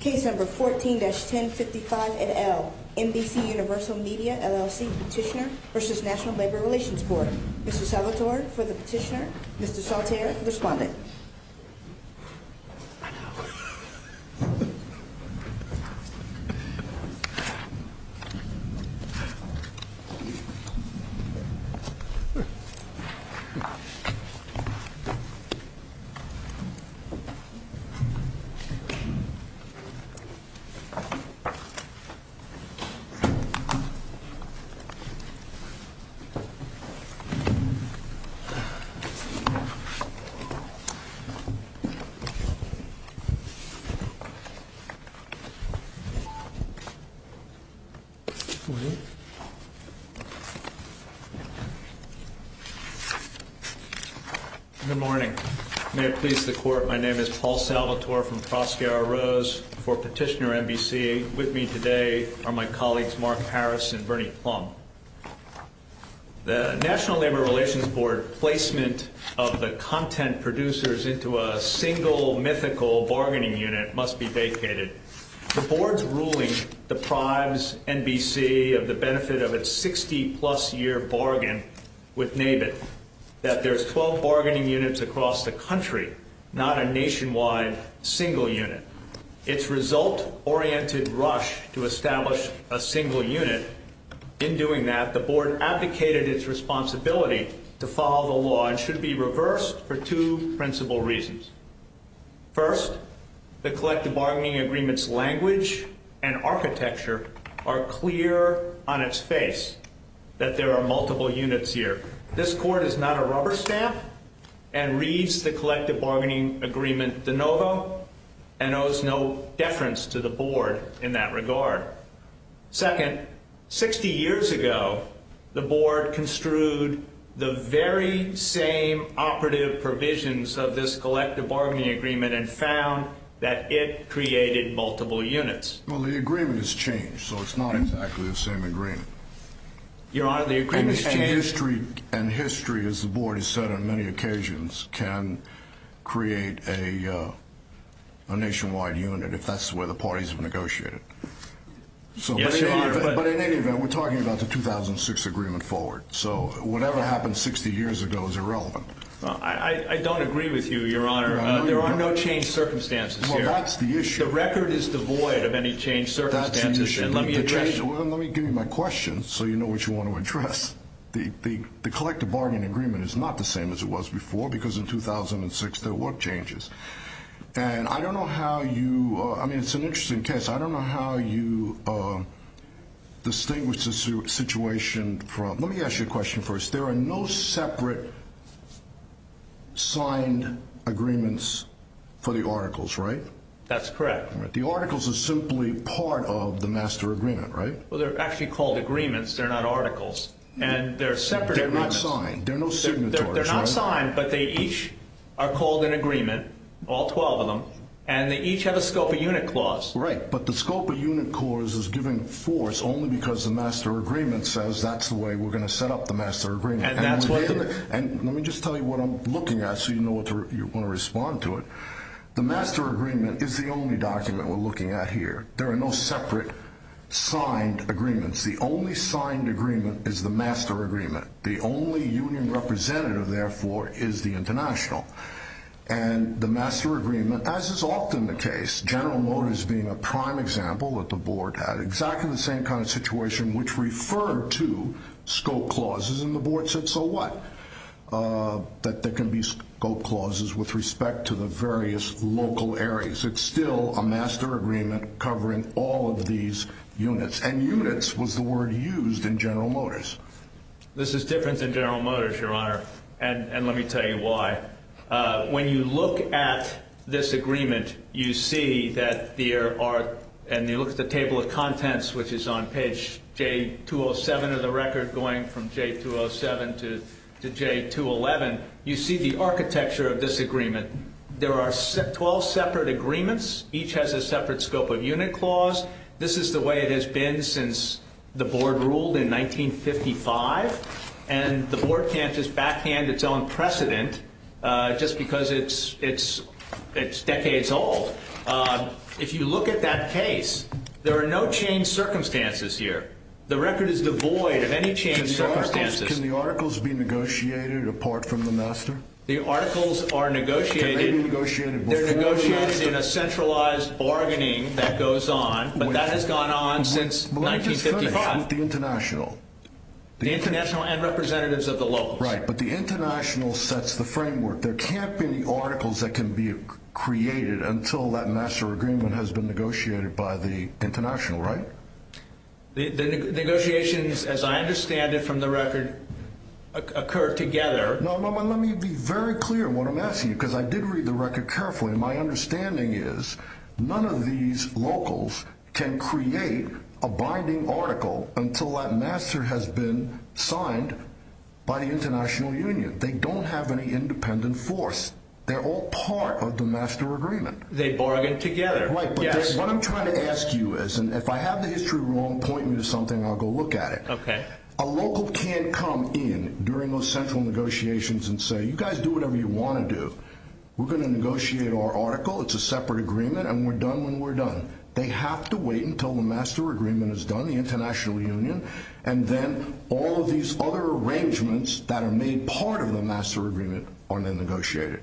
Case No. 14-1055 et al. NBCUniversal Media, LLC Petitioner v. National Labor Relations Board Mr. Salvatore for the petitioner, Mr. Salterra for the respondent Good morning. May it please the Court, my name is Paul Salvatore from the Prosecutor's for Petitioner, NBC. With me today are my colleagues Mark Harris and Bernie Plumb. The National Labor Relations Board placement of the content producers into a single mythical bargaining unit must be vacated. The Board's ruling deprives NBC of the benefit of its 60-plus year bargain with NABIT, that there's 12 bargaining units across the country, not a nationwide single unit. Its result-oriented rush to establish a single unit, in doing that the Board abdicated its responsibility to follow the law and should be reversed for two principal reasons. First, the collective bargaining agreement's language and architecture are clear on its face that there are multiple units here. This Court is not a rubber stamp and reads the collective bargaining agreement de novo and owes no deference to the Board in that regard. Second, 60 years ago the Board construed the very same operative provisions of this collective bargaining agreement and found that it created multiple units. Well, the agreement has changed, so it's not exactly the same agreement. Your Honor, the agreement has changed. And history, as the Board has said on many occasions, can create a nationwide unit if that's the way the parties have negotiated. Yes, Your Honor. But in any event, we're talking about the 2006 agreement forward, so whatever happened 60 years ago is irrelevant. I don't agree with you, Your Honor. There are no changed circumstances here. Well, that's the issue. The record is devoid of any changed circumstances. That's the issue. Well, let me give you my question so you know what you want to address. The collective bargaining agreement is not the same as it was before because in 2006 there were changes. And I don't know how you, I mean, it's an interesting case. I don't know how you distinguish the situation from, let me ask you a question first. There are no separate signed agreements for the articles, right? That's correct. The articles are simply part of the master agreement, right? Well, they're actually called agreements. They're not articles. And they're separate agreements. They're not signed. They're no signatories, right? They're not signed, but they each are called an agreement, all 12 of them. And they each have a scope of unit clause. Right, but the scope of unit clause is given force only because the master agreement says that's the way we're going to set up the master agreement. And that's what the... And let me just tell you what I'm looking at so you know what to, you want to respond to it. The master agreement is the only document we're looking at here. There are no separate signed agreements. The only signed agreement is the master agreement. The only union representative, therefore, is the international. And the master agreement, as is often the case, General Motors being a prime example that the board had exactly the same kind of situation which referred to scope clauses. And the board said, so what? That there can be scope clauses with respect to the various local areas. It's still a master agreement covering all of these units. And units was the word used in General Motors. This is different than General Motors, Your Honor. And let me tell you why. When you look at this agreement, you see that there are... which is on page J207 of the record going from J207 to J211. You see the architecture of this agreement. There are 12 separate agreements. Each has a separate scope of unit clause. This is the way it has been since the board ruled in 1955. And the board can't just backhand its own precedent just because it's decades old. If you look at that case, there are no changed circumstances here. The record is devoid of any changed circumstances. Can the articles be negotiated apart from the master? The articles are negotiated in a centralized bargaining that goes on, but that has gone on since 1955. But let me just finish with the international. The international and representatives of the locals. Right, but the international sets the framework. There can't be any articles that can be created until that master agreement has been negotiated by the international, right? The negotiations, as I understand it from the record, occur together. No, but let me be very clear in what I'm asking you, because I did read the record carefully. My understanding is none of these locals can create a binding article until that master has been signed by the international union. They don't have any independent force. They're all part of the master agreement. They bargain together. Right, but what I'm trying to ask you is, and if I have the history wrong, point me to something and I'll go look at it. Okay. A local can't come in during those central negotiations and say, you guys do whatever you want to do. We're going to negotiate our article. It's a separate agreement, and we're done when we're done. They have to wait until the master agreement is done, the international union, and then all of these other arrangements that are made part of the master agreement are then negotiated.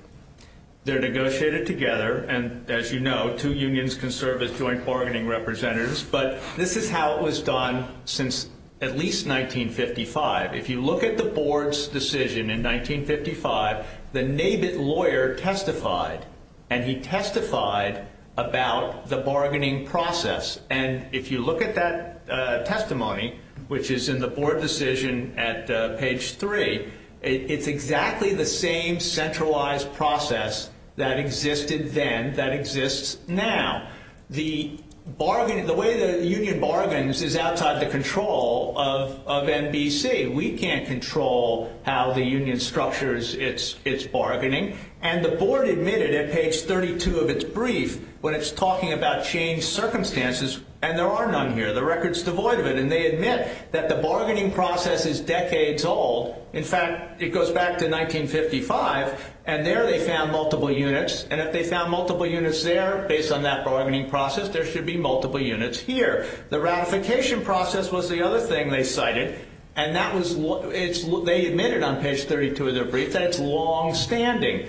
They're negotiated together, and as you know, two unions can serve as joint bargaining representatives, but this is how it was done since at least 1955. If you look at the board's decision in 1955, the NABIT lawyer testified, and he testified about the bargaining process. And if you look at that testimony, which is in the board decision at page 3, it's exactly the same centralized process that existed then that exists now. The way the union bargains is outside the control of NBC. We can't control how the union structures its bargaining. And the board admitted at page 32 of its brief, when it's talking about changed circumstances, and there are none here. The record's devoid of it, and they admit that the bargaining process is decades old. In fact, it goes back to 1955, and there they found multiple units, and if they found multiple units there based on that bargaining process, there should be multiple units here. The ratification process was the other thing they cited, and they admitted on page 32 of their brief that it's longstanding.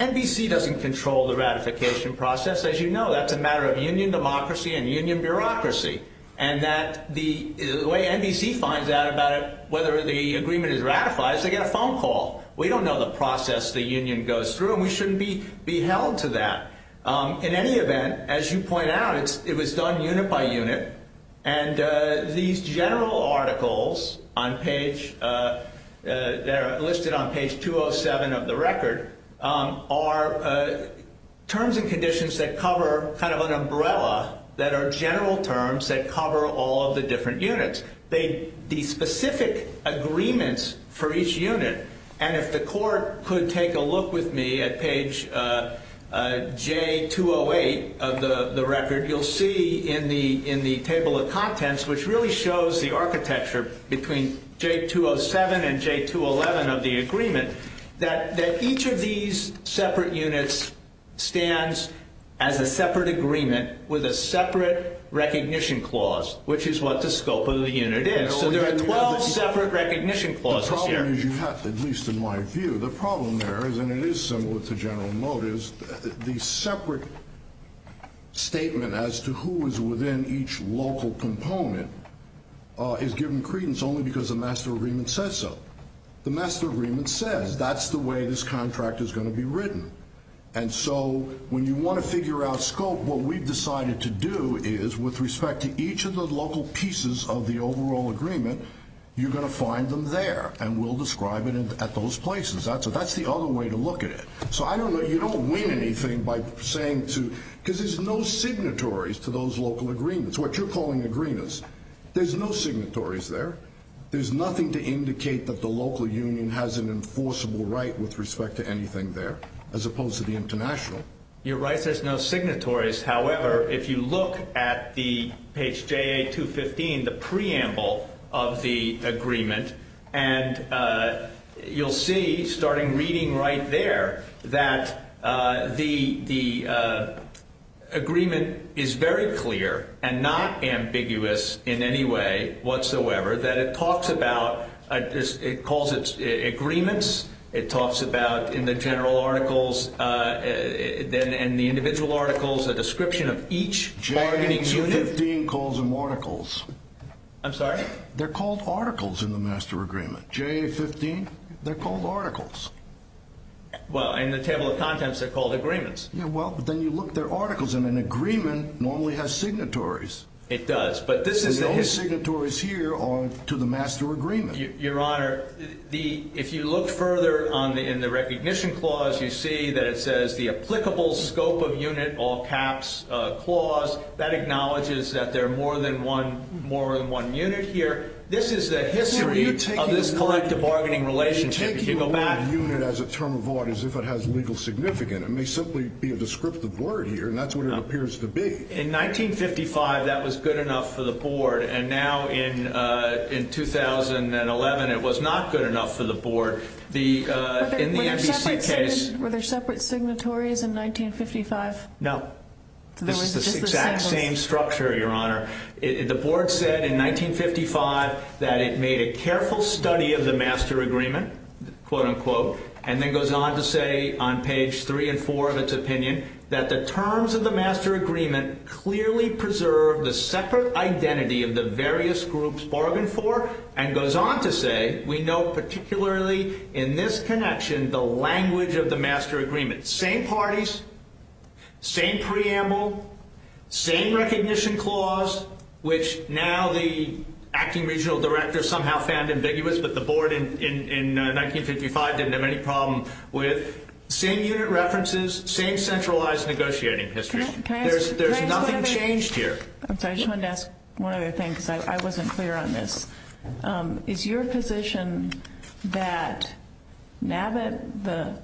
NBC doesn't control the ratification process. As you know, that's a matter of union democracy and union bureaucracy, and the way NBC finds out about it, whether the agreement is ratified, is they get a phone call. We don't know the process the union goes through, and we shouldn't be held to that. In any event, as you point out, it was done unit by unit, and these general articles that are listed on page 207 of the record are terms and conditions that cover kind of an umbrella that are general terms that cover all of the different units. The specific agreements for each unit, and if the court could take a look with me at page J208 of the record, you'll see in the table of contents, which really shows the architecture between J207 and J211 of the agreement, that each of these separate units stands as a separate agreement with a separate recognition clause, which is what the scope of the unit is. So there are 12 separate recognition clauses here. As you have, at least in my view, the problem there is, and it is similar to general motives, the separate statement as to who is within each local component is given credence only because the master agreement says so. The master agreement says that's the way this contract is going to be written, and so when you want to figure out scope, what we've decided to do is, with respect to each of the local pieces of the overall agreement, you're going to find them there, and we'll describe it at those places. That's the other way to look at it. So I don't know, you don't win anything by saying, because there's no signatories to those local agreements. What you're calling agreements, there's no signatories there. There's nothing to indicate that the local union has an enforceable right with respect to anything there, as opposed to the international. You're right, there's no signatories. However, if you look at the page JA215, the preamble of the agreement, and you'll see, starting reading right there, that the agreement is very clear and not ambiguous in any way whatsoever, that it talks about, it calls it agreements, it talks about, in the general articles, and the individual articles, a description of each bargaining unit. JA215 calls them articles. I'm sorry? They're called articles in the master agreement. JA215, they're called articles. Well, in the table of contents, they're called agreements. Yeah, well, but then you look, they're articles, and an agreement normally has signatories. It does, but this is the history. The only signatories here are to the master agreement. Your Honor, if you look further in the recognition clause, you see that it says, the applicable scope of unit, all caps clause, that acknowledges that there are more than one unit here. This is the history of this collective bargaining relationship. If you go back. You're taking a word unit as a term of order as if it has legal significance. It may simply be a descriptive word here, and that's what it appears to be. In 1955, that was good enough for the board, and now in 2011, it was not good enough for the board. In the NBC case. Were there separate signatories in 1955? No. This is the exact same structure, Your Honor. The board said in 1955 that it made a careful study of the master agreement, quote, unquote, and then goes on to say on page three and four of its opinion that the terms of the master agreement clearly preserve the separate identity of the various groups bargained for, and goes on to say we know particularly in this connection the language of the master agreement. Same parties, same preamble, same recognition clause, which now the acting regional director somehow found ambiguous, but the board in 1955 didn't have any problem with. Same unit references, same centralized negotiating history. There's nothing changed here. I just wanted to ask one other thing because I wasn't clear on this. Is your position that NAVIT, the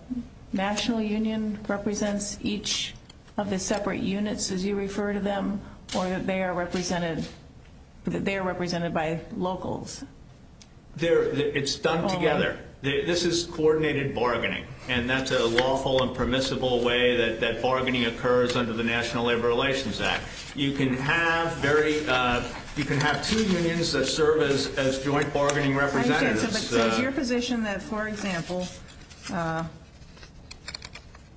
national union, represents each of the separate units as you refer to them, or that they are represented by locals? It's done together. This is coordinated bargaining, and that's a lawful and permissible way that bargaining occurs under the National Labor Relations Act. You can have two unions that serve as joint bargaining representatives. So is your position that, for example,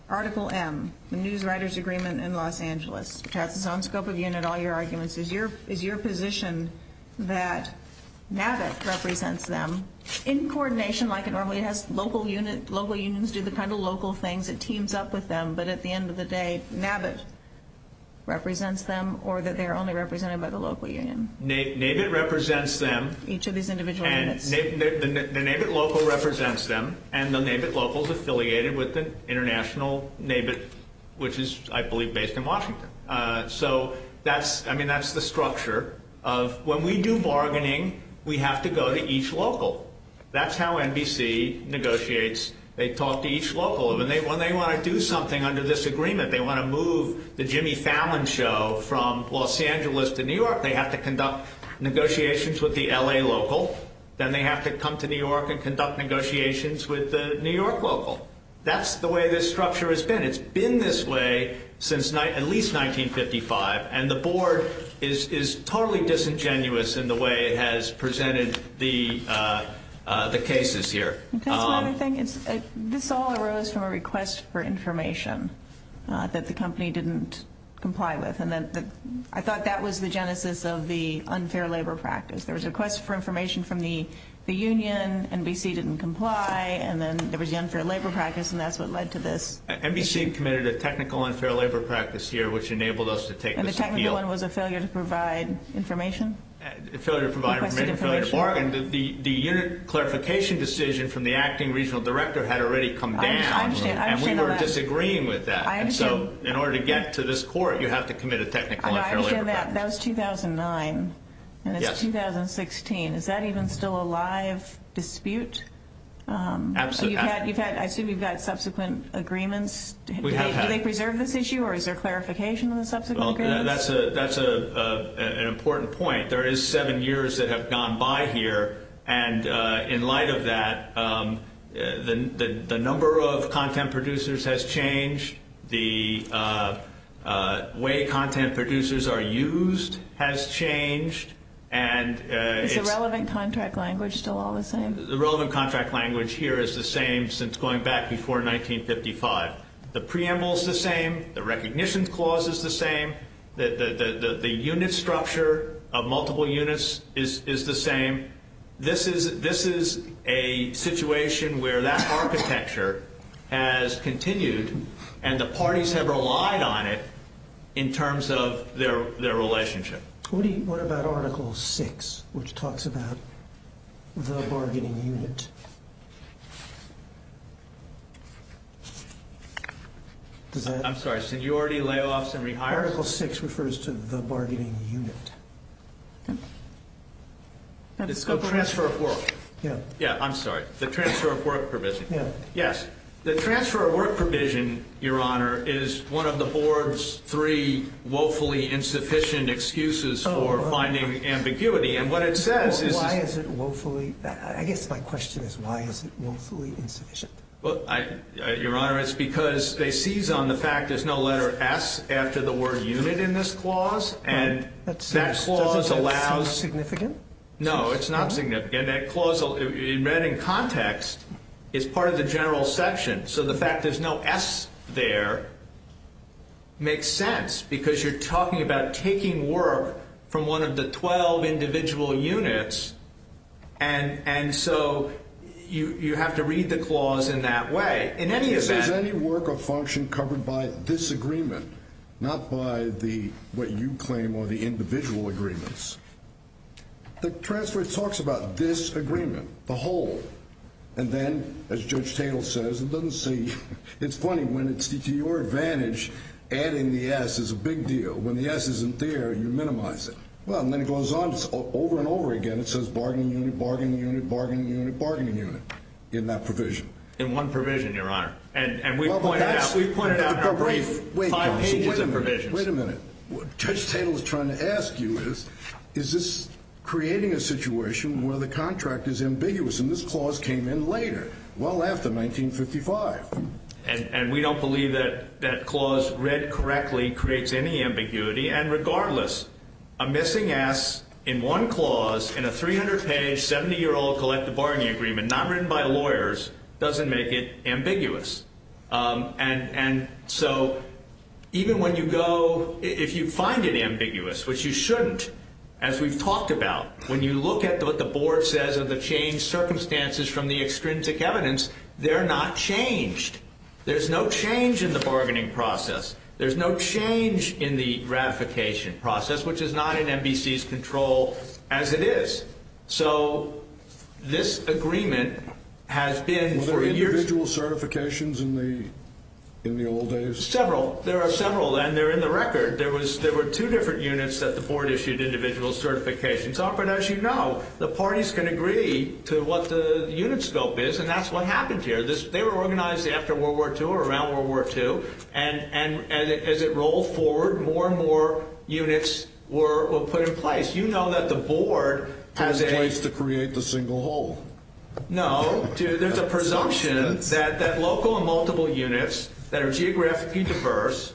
Article M, the Newswriters Agreement in Los Angeles, which has its own scope of unit, all your arguments, is your position that NAVIT represents them in coordination like it normally does, local unions do the kind of local things, it teams up with them, but at the end of the day NAVIT represents them, or that they are only represented by the local union? NAVIT represents them. Each of these individual units. The NAVIT local represents them, and the NAVIT local is affiliated with the international NAVIT, which is, I believe, based in Washington. So that's the structure of when we do bargaining, we have to go to each local. That's how NBC negotiates. They talk to each local. When they want to do something under this agreement, they want to move the Jimmy Fallon show from Los Angeles to New York, they have to conduct negotiations with the LA local, then they have to come to New York and conduct negotiations with the New York local. That's the way this structure has been. It's been this way since at least 1955, and the board is totally disingenuous in the way it has presented the cases here. This all arose from a request for information that the company didn't comply with, and I thought that was the genesis of the unfair labor practice. There was a request for information from the union, NBC didn't comply, and then there was the unfair labor practice, and that's what led to this. NBC committed a technical unfair labor practice here, which enabled us to take this appeal. And the technical one was a failure to provide information? A failure to provide information, a failure to bargain. The unit clarification decision from the acting regional director had already come down, and we were disagreeing with that. So in order to get to this court, you have to commit a technical unfair labor practice. I understand that. That was 2009, and it's 2016. Is that even still a live dispute? Absolutely. I assume you've had subsequent agreements. Do they preserve this issue, or is there clarification on the subsequent agreements? That's an important point. There is seven years that have gone by here, and in light of that, the number of content producers has changed. The way content producers are used has changed. Is the relevant contract language still all the same? The relevant contract language here is the same since going back before 1955. The preamble is the same. The recognition clause is the same. The unit structure of multiple units is the same. This is a situation where that architecture has continued, and the parties have relied on it in terms of their relationship. What about Article VI, which talks about the bargaining unit? I'm sorry. Seniority, layoffs, and rehires? Article VI refers to the bargaining unit. The transfer of work. I'm sorry. The transfer of work provision. Yes. The transfer of work provision, Your Honor, is one of the Board's three woefully insufficient excuses for finding ambiguity. I guess my question is why is it woefully insufficient? Your Honor, it's because they seize on the fact there's no letter S after the word unit in this clause. Does that seem significant? No, it's not significant. And that clause, read in context, is part of the general section, so the fact there's no S there makes sense because you're talking about taking work from one of the 12 individual units, and so you have to read the clause in that way. In any event. This is any work or function covered by this agreement, not by what you claim are the individual agreements. The transfer talks about this agreement, the whole, and then, as Judge Tatel says, it doesn't say. It's funny. When it's to your advantage, adding the S is a big deal. When the S isn't there, you minimize it. Well, and then it goes on over and over again. It says bargaining unit, bargaining unit, bargaining unit, bargaining unit in that provision. In one provision, Your Honor, and we pointed out in our brief five pages of provisions. Wait a minute. What Judge Tatel is trying to ask you is, is this creating a situation where the contract is ambiguous, and this clause came in later, well after 1955. And we don't believe that that clause, read correctly, creates any ambiguity, and regardless, a missing S in one clause in a 300-page, 70-year-old collective bargaining agreement, not written by lawyers, doesn't make it ambiguous. And so even when you go, if you find it ambiguous, which you shouldn't, as we've talked about, when you look at what the board says of the changed circumstances from the extrinsic evidence, they're not changed. There's no change in the bargaining process. There's no change in the ratification process, which is not in NBC's control as it is. So this agreement has been for years. Were there individual certifications in the old days? Several. There are several, and they're in the record. There were two different units that the board issued individual certifications on, but as you know, the parties can agree to what the unit scope is, and that's what happened here. They were organized after World War II or around World War II, and as it rolled forward, more and more units were put in place. You know that the board has a – Has a place to create the single whole. No. There's a presumption that local and multiple units that are geographically diverse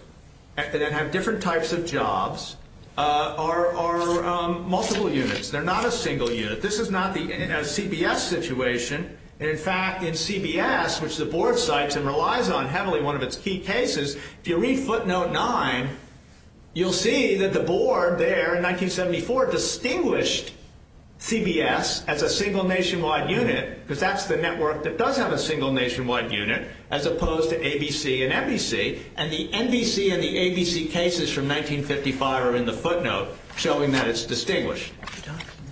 and that have different types of jobs are multiple units. They're not a single unit. This is not a CBS situation. In fact, in CBS, which the board cites and relies on heavily, one of its key cases, if you read footnote 9, you'll see that the board there in 1974 distinguished CBS as a single nationwide unit, because that's the network that does have a single nationwide unit, as opposed to ABC and NBC, and the NBC and the ABC cases from 1955 are in the footnote showing that it's distinguished.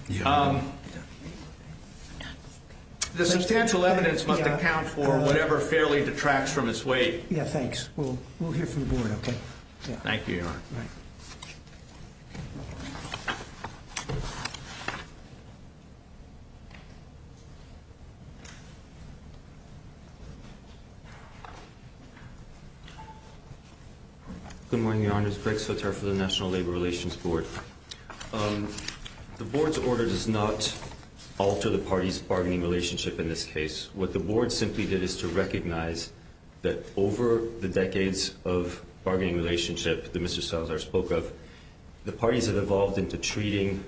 The substantial evidence must account for whatever fairly detracts from its weight. Yeah, thanks. We'll hear from the board, okay? Thank you, Your Honor. Good morning, Your Honors. Greg Sotar for the National Labor Relations Board. The board's order does not alter the parties' bargaining relationship in this case. What the board simply did is to recognize that over the decades of bargaining relationship that Mr. Sotar spoke of, the parties have evolved into treating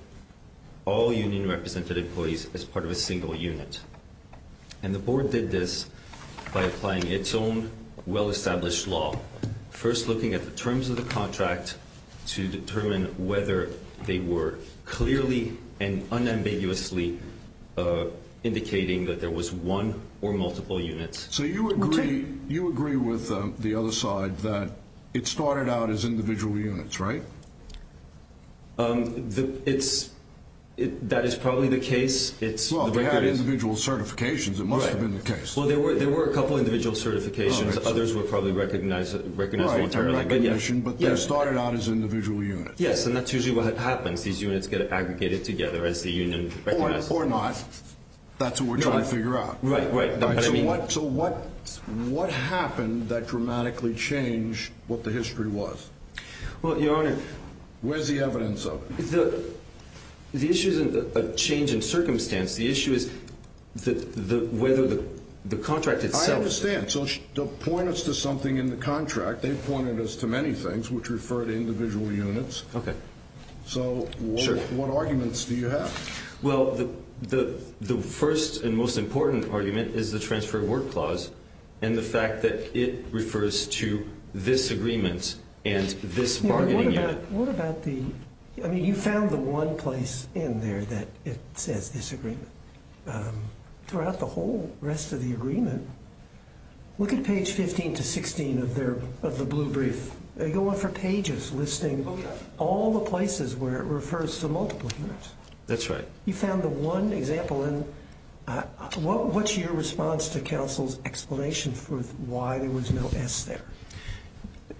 all union-represented employees as part of a single unit. And the board did this by applying its own well-established law, first looking at the terms of the contract to determine whether they were clearly and unambiguously indicating that there was one or multiple units. So you agree with the other side that it started out as individual units, right? That is probably the case. Well, they had individual certifications. It must have been the case. Well, there were a couple of individual certifications. Others were probably recognized voluntarily. But they started out as individual units. Yes, and that's usually what happens. These units get aggregated together as the union recognizes them. Or not. That's what we're trying to figure out. Right, right. So what happened that dramatically changed what the history was? Well, Your Honor. Where's the evidence of it? The issue isn't a change in circumstance. The issue is whether the contract itself. I understand. So they'll point us to something in the contract. They've pointed us to many things, which refer to individual units. Okay. So what arguments do you have? Well, the first and most important argument is the Transfer Award Clause and the fact that it refers to this agreement and this bargaining unit. What about the – I mean, you found the one place in there that it says this agreement. Throughout the whole rest of the agreement, look at page 15 to 16 of the blue brief. They go on for pages listing all the places where it refers to multiple units. That's right. You found the one example, and what's your response to counsel's explanation for why there was no S there?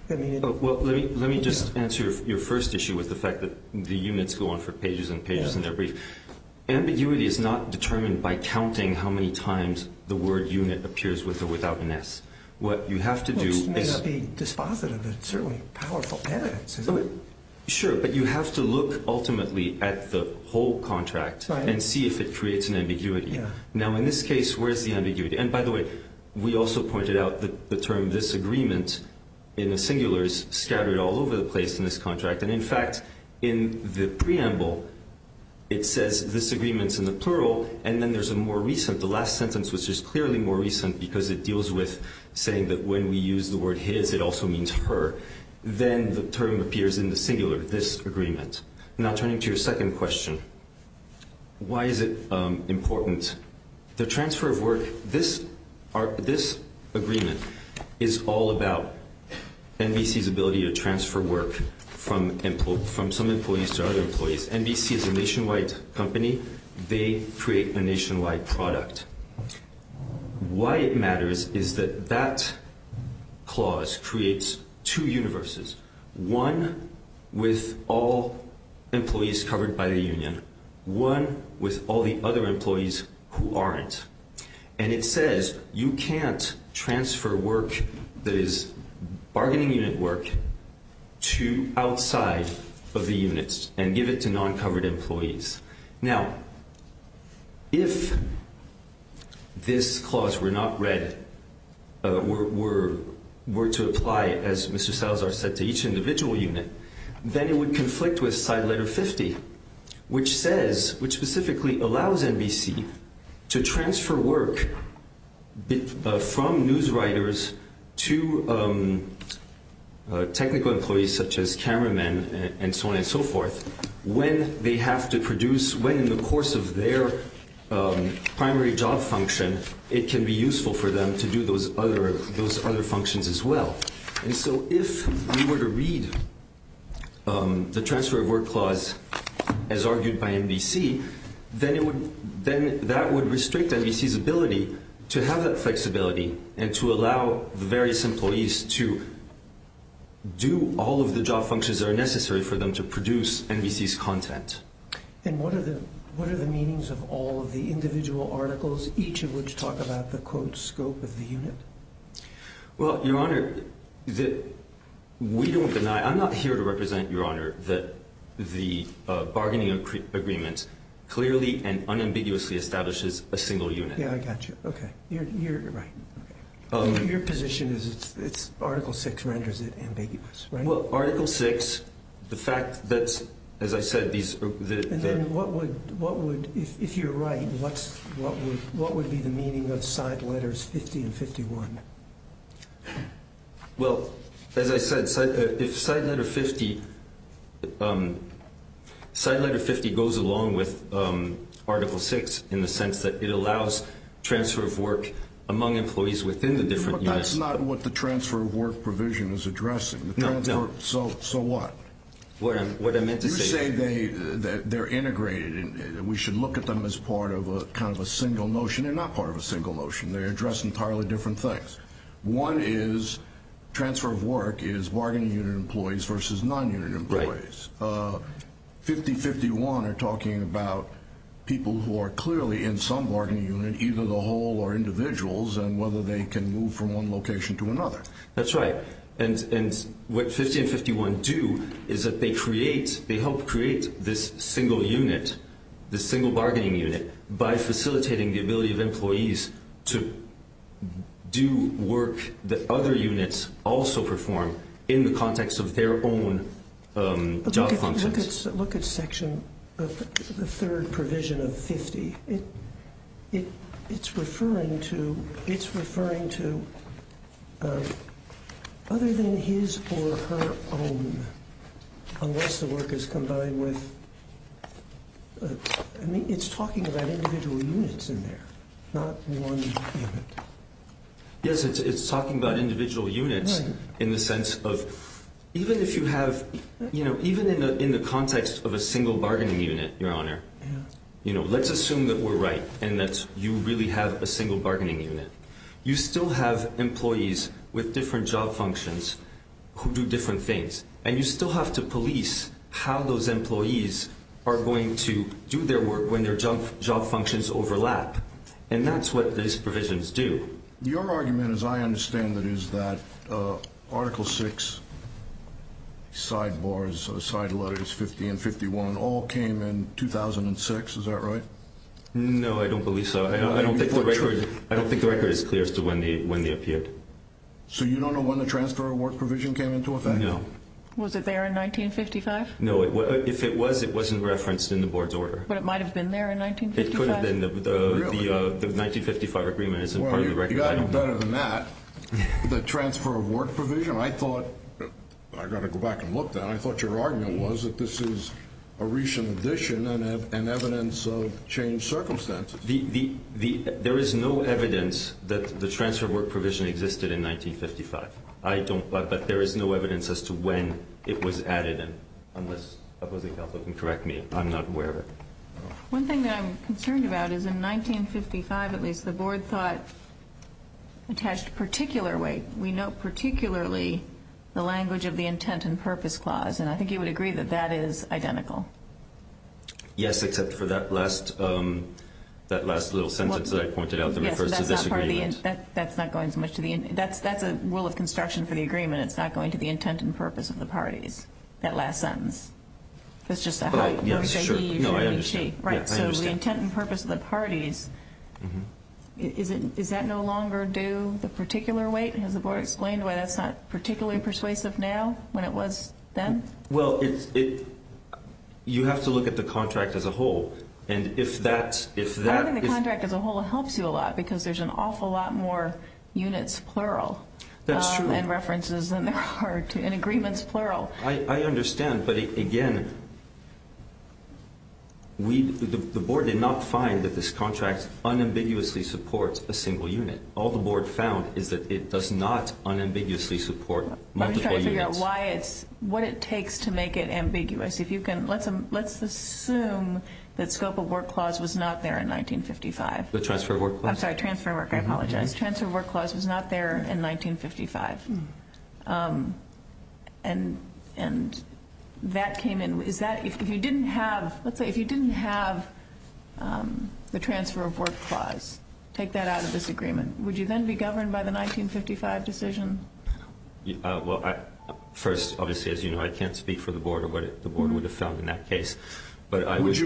Well, let me just answer your first issue with the fact that the units go on for pages and pages in their brief. Ambiguity is not determined by counting how many times the word unit appears with or without an S. What you have to do is – Well, this may not be dispositive, but it's certainly powerful evidence, isn't it? Sure, but you have to look ultimately at the whole contract and see if it creates an ambiguity. Now, in this case, where's the ambiguity? And, by the way, we also pointed out the term disagreement in the singulars scattered all over the place in this contract. And, in fact, in the preamble, it says disagreements in the plural, and then there's a more recent. The last sentence was just clearly more recent because it deals with saying that when we use the word his, it also means her. Then the term appears in the singular, this agreement. Now, turning to your second question, why is it important? The transfer of work, this agreement is all about NBC's ability to transfer work from some employees to other employees. Because NBC is a nationwide company, they create a nationwide product. Why it matters is that that clause creates two universes, one with all employees covered by the union, one with all the other employees who aren't. And it says you can't transfer work that is bargaining unit work to outside of the units and give it to non-covered employees. Now, if this clause were not read, were to apply, as Mr. Salazar said, to each individual unit, then it would conflict with side letter 50, which says, which specifically allows NBC to transfer work from newswriters to technical employees such as cameramen and so on and so forth when they have to produce, when in the course of their primary job function, it can be useful for them to do those other functions as well. And so if we were to read the transfer of work clause as argued by NBC, then that would restrict NBC's ability to have that flexibility and to allow the various employees to do all of the job functions that are necessary for them to produce NBC's content. And what are the meanings of all of the individual articles, each of which talk about the, quote, scope of the unit? Well, Your Honor, we don't deny, I'm not here to represent, Your Honor, that the bargaining agreement clearly and unambiguously establishes a single unit. Yeah, I got you. Okay. You're right. Your position is it's Article 6 renders it ambiguous, right? Well, Article 6, the fact that, as I said, these are the... And then what would, if you're right, what would be the meaning of side letters 50 and 51? Well, as I said, if side letter 50 goes along with Article 6 in the sense that it allows transfer of work among employees within the different units... But that's not what the transfer of work provision is addressing. No, it's not. So what? What I meant to say... We should look at them as part of a kind of a single notion. They're not part of a single notion. They address entirely different things. One is transfer of work is bargaining unit employees versus non-unit employees. Right. 50 and 51 are talking about people who are clearly in some bargaining unit, either the whole or individuals, and whether they can move from one location to another. That's right. And what 50 and 51 do is that they create, they help create this single unit, this single bargaining unit, by facilitating the ability of employees to do work that other units also perform in the context of their own job functions. Look at Section, the third provision of 50. It's referring to other than his or her own, unless the work is combined with... I mean, it's talking about individual units in there, not one unit. Yes, it's talking about individual units in the sense of... Even in the context of a single bargaining unit, Your Honor, let's assume that we're right and that you really have a single bargaining unit. You still have employees with different job functions who do different things. And you still have to police how those employees are going to do their work when their job functions overlap. And that's what these provisions do. Your argument, as I understand it, is that Article 6 sidebars, side letters 50 and 51 all came in 2006. Is that right? No, I don't believe so. I don't think the record is clear as to when they appeared. So you don't know when the transfer of work provision came into effect? No. Was it there in 1955? No, if it was, it wasn't referenced in the board's order. But it might have been there in 1955? It could have been. Really? The 1955 agreement isn't part of the record. Well, you've got to know better than that. The transfer of work provision, I thought... I've got to go back and look that. I thought your argument was that this is a recent addition and evidence of changed circumstances. There is no evidence that the transfer of work provision existed in 1955. I don't, but there is no evidence as to when it was added, unless opposing counsel can correct me. I'm not aware. One thing that I'm concerned about is in 1955, at least, the board thought attached particular weight. We note particularly the language of the intent and purpose clause, and I think you would agree that that is identical. Yes, except for that last little sentence that I pointed out that refers to disagreement. Yes, that's not going so much to the... that's a rule of construction for the agreement. It's not going to the intent and purpose of the parties, that last sentence. It's just a... No, I understand. Right, so the intent and purpose of the parties, is that no longer due the particular weight? Has the board explained why that's not particularly persuasive now, when it was then? Well, you have to look at the contract as a whole, and if that... I don't think the contract as a whole helps you a lot, because there's an awful lot more units, plural... That's true. ...and references than there are in agreements, plural. I understand, but again, we... the board did not find that this contract unambiguously supports a single unit. All the board found is that it does not unambiguously support multiple units. Let me try to figure out why it's... what it takes to make it ambiguous. If you can... let's assume that scope of work clause was not there in 1955. The transfer of work clause? I'm sorry, transfer of work. I apologize. The transfer of work clause was not there in 1955, and that came in. Is that... if you didn't have... let's say if you didn't have the transfer of work clause, take that out of this agreement, would you then be governed by the 1955 decision? Well, first, obviously, as you know, I can't speak for the board or what the board would have found in that case, but I would...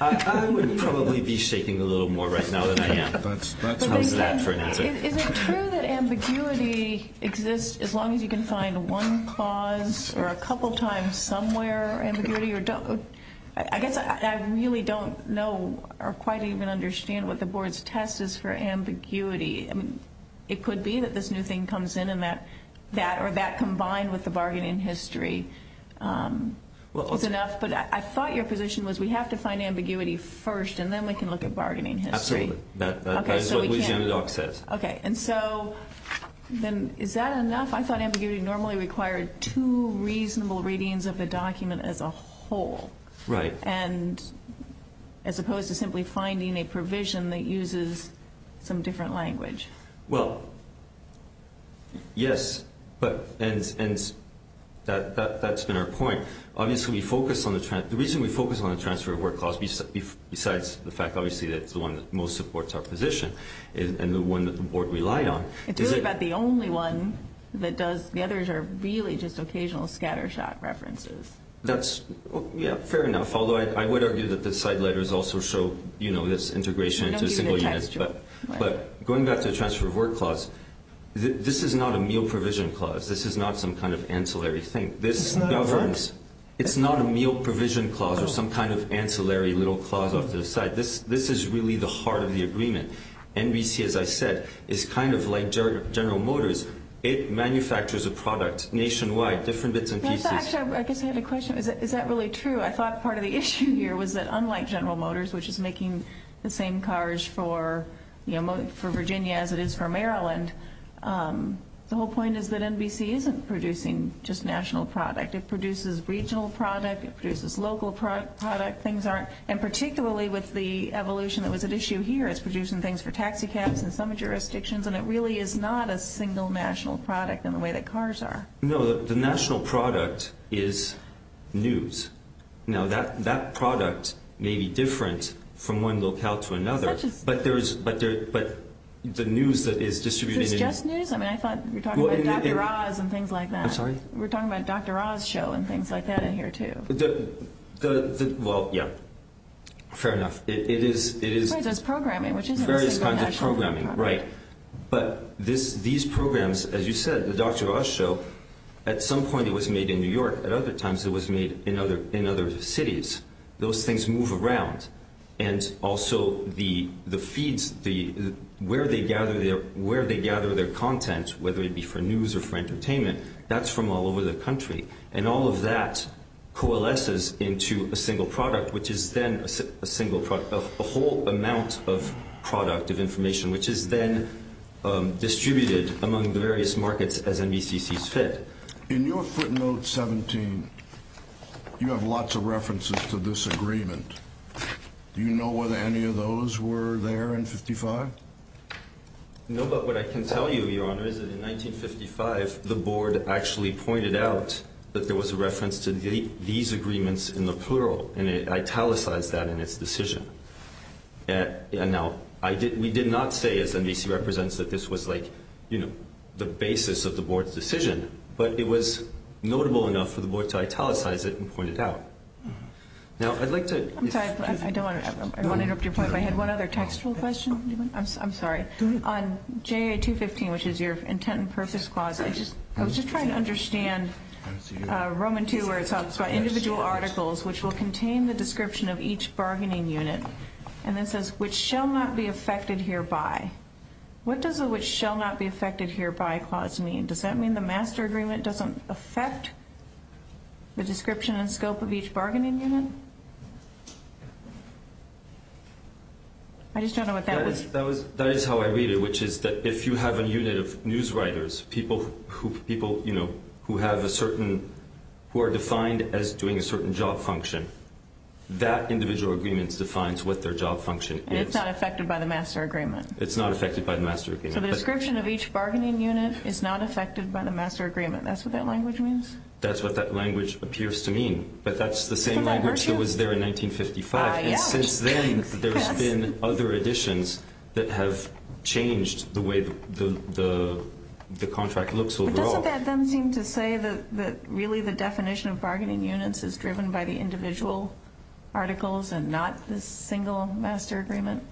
I would probably be shaking a little more right now than I am. That's... How's that for an answer? Is it true that ambiguity exists as long as you can find one clause or a couple times somewhere, ambiguity, or don't... I guess I really don't know or quite even understand what the board's test is for ambiguity. I mean, it could be that this new thing comes in and that... that or that combined with the bargain in history is enough, but I thought your position was we have to find ambiguity first, and then we can look at bargaining history. Absolutely. Okay, so we can't... That's what Louisiana Dock says. Okay, and so then is that enough? I thought ambiguity normally required two reasonable readings of the document as a whole. Right. And as opposed to simply finding a provision that uses some different language. Well, yes, but... and that's been our point. Obviously, we focus on the transfer... the reason we focus on the transfer of work clause besides the fact, obviously, that it's the one that most supports our position and the one that the board relied on... It's really about the only one that does... the others are really just occasional scattershot references. That's, yeah, fair enough, although I would argue that the side letters also show, you know, this integration into a single unit. I know you didn't text your... But going back to the transfer of work clause, this is not a meal provision clause. This is not some kind of ancillary thing. This governs... It's not a what? It's not a meal provision clause or some kind of ancillary little clause off to the side. This is really the heart of the agreement. NBC, as I said, is kind of like General Motors. It manufactures a product nationwide, different bits and pieces. Actually, I guess I had a question. Is that really true? I thought part of the issue here was that unlike General Motors, which is making the same cars for Virginia as it is for Maryland, the whole point is that NBC isn't producing just national product. It produces regional product. It produces local product. Things aren't... And particularly with the evolution that was at issue here, it's producing things for taxicabs in some jurisdictions, and it really is not a single national product in the way that cars are. No, the national product is news. Now, that product may be different from one locale to another, but the news that is distributed... Is this just news? I mean, I thought you were talking about Dr. Oz and things like that. I'm sorry? We're talking about Dr. Oz Show and things like that in here, too. Well, yeah. Fair enough. It is... Right, so it's programming, which isn't a single national product. Various kinds of programming. Right. But these programs, as you said, the Dr. Oz Show, at some point it was made in New York. At other times, it was made in other cities. Those things move around. And also, the feeds, where they gather their content, whether it be for news or for entertainment, that's from all over the country. And all of that coalesces into a single product, which is then a whole amount of product of information, which is then distributed among the various markets as NBCC's fit. In your footnote 17, you have lots of references to this agreement. Do you know whether any of those were there in 55? No, but what I can tell you, Your Honor, is that in 1955, the board actually pointed out that there was a reference to these agreements in the plural, and it italicized that in its decision. Now, we did not say, as NBC represents, that this was the basis of the board's decision, but it was notable enough for the board to italicize it and point it out. Now, I'd like to – I'm sorry. I don't want to interrupt your point, but I had one other textual question. I'm sorry. On JA215, which is your intent and purpose clause, I was just trying to understand Roman II, where it talks about individual articles, which will contain the description of each bargaining unit, and then says, which shall not be affected hereby. What does the which shall not be affected hereby clause mean? Does that mean the master agreement doesn't affect the description and scope of each bargaining unit? I just don't know what that was. That is how I read it, which is that if you have a unit of newswriters, people who have a certain – who are defined as doing a certain job function, that individual agreement defines what their job function is. And it's not affected by the master agreement. It's not affected by the master agreement. So the description of each bargaining unit is not affected by the master agreement. That's what that language means? That's what that language appears to mean. But that's the same language that was there in 1955. Yeah. And since then, there's been other additions that have changed the way the contract looks overall. But doesn't that then seem to say that really the definition of bargaining units is driven by the individual articles and not the single master agreement?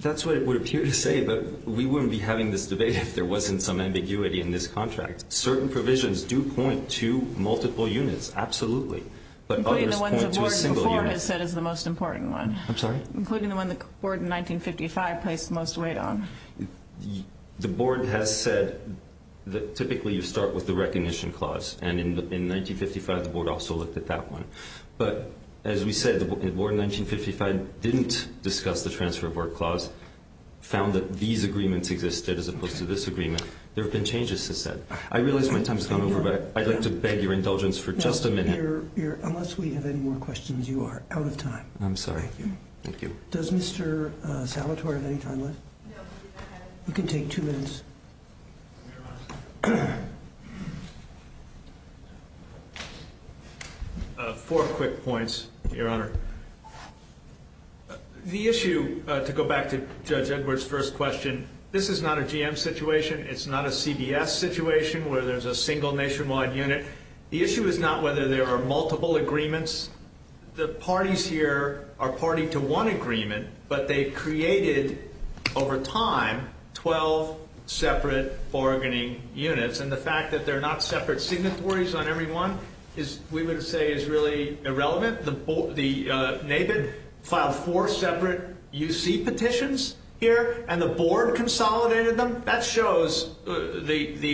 That's what it would appear to say, but we wouldn't be having this debate if there wasn't some ambiguity in this contract. Certain provisions do point to multiple units, absolutely, but others point to a single unit. The one that you have said is the most important one. I'm sorry? Including the one the board in 1955 placed the most weight on. The board has said that typically you start with the recognition clause, and in 1955 the board also looked at that one. But as we said, the board in 1955 didn't discuss the transfer of work clause, found that these agreements existed as opposed to this agreement. There have been changes, as said. I realize my time has gone over, but I'd like to beg your indulgence for just a minute. Unless we have any more questions, you are out of time. I'm sorry. Thank you. Does Mr. Salatori have any time left? No. You can take two minutes. Four quick points, Your Honor. The issue, to go back to Judge Edwards' first question, this is not a GM situation. It's not a CBS situation where there's a single nationwide unit. The issue is not whether there are multiple agreements. The parties here are party to one agreement, but they created, over time, 12 separate bargaining units. And the fact that there are not separate signatories on every one is, we would say, is really irrelevant. The NABID filed four separate UC petitions here, and the board consolidated them. That shows the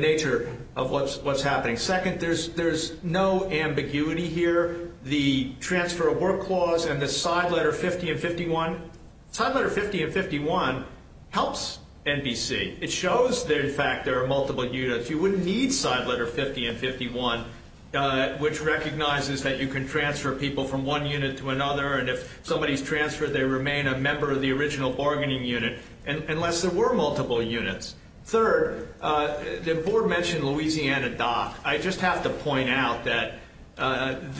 nature of what's happening. Second, there's no ambiguity here. The transfer of work clause and the side letter 50 and 51, side letter 50 and 51 helps NBC. It shows that, in fact, there are multiple units. You wouldn't need side letter 50 and 51, which recognizes that you can transfer people from one unit to another, and if somebody's transferred, they remain a member of the original bargaining unit, unless there were multiple units. Third, the board mentioned Louisiana Dock. I just have to point out that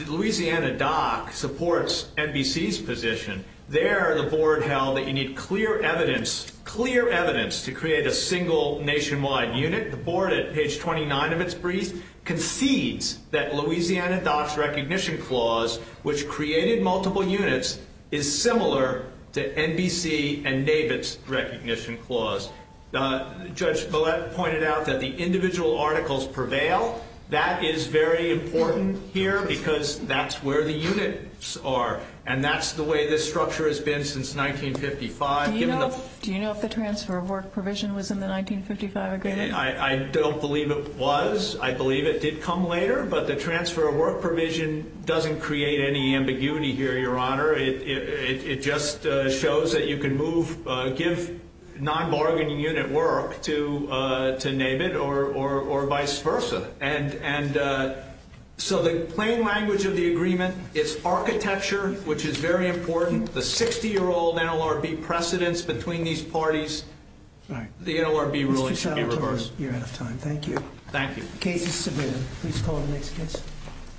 Louisiana Dock supports NBC's position. There, the board held that you need clear evidence, clear evidence, to create a single nationwide unit. The board, at page 29 of its brief, concedes that Louisiana Dock's recognition clause, which created multiple units, is similar to NBC and NABID's recognition clause. Judge Balette pointed out that the individual articles prevail. That is very important here because that's where the units are, and that's the way this structure has been since 1955. Do you know if the transfer of work provision was in the 1955 agreement? I don't believe it was. I believe it did come later, but the transfer of work provision doesn't create any ambiguity here, Your Honor. It just shows that you can give non-bargaining unit work to NABID or vice versa. And so the plain language of the agreement is architecture, which is very important. The 60-year-old NLRB precedence between these parties, the NLRB ruling should be reversed. You're out of time. Thank you. Thank you. The case is submitted. Please call the next case.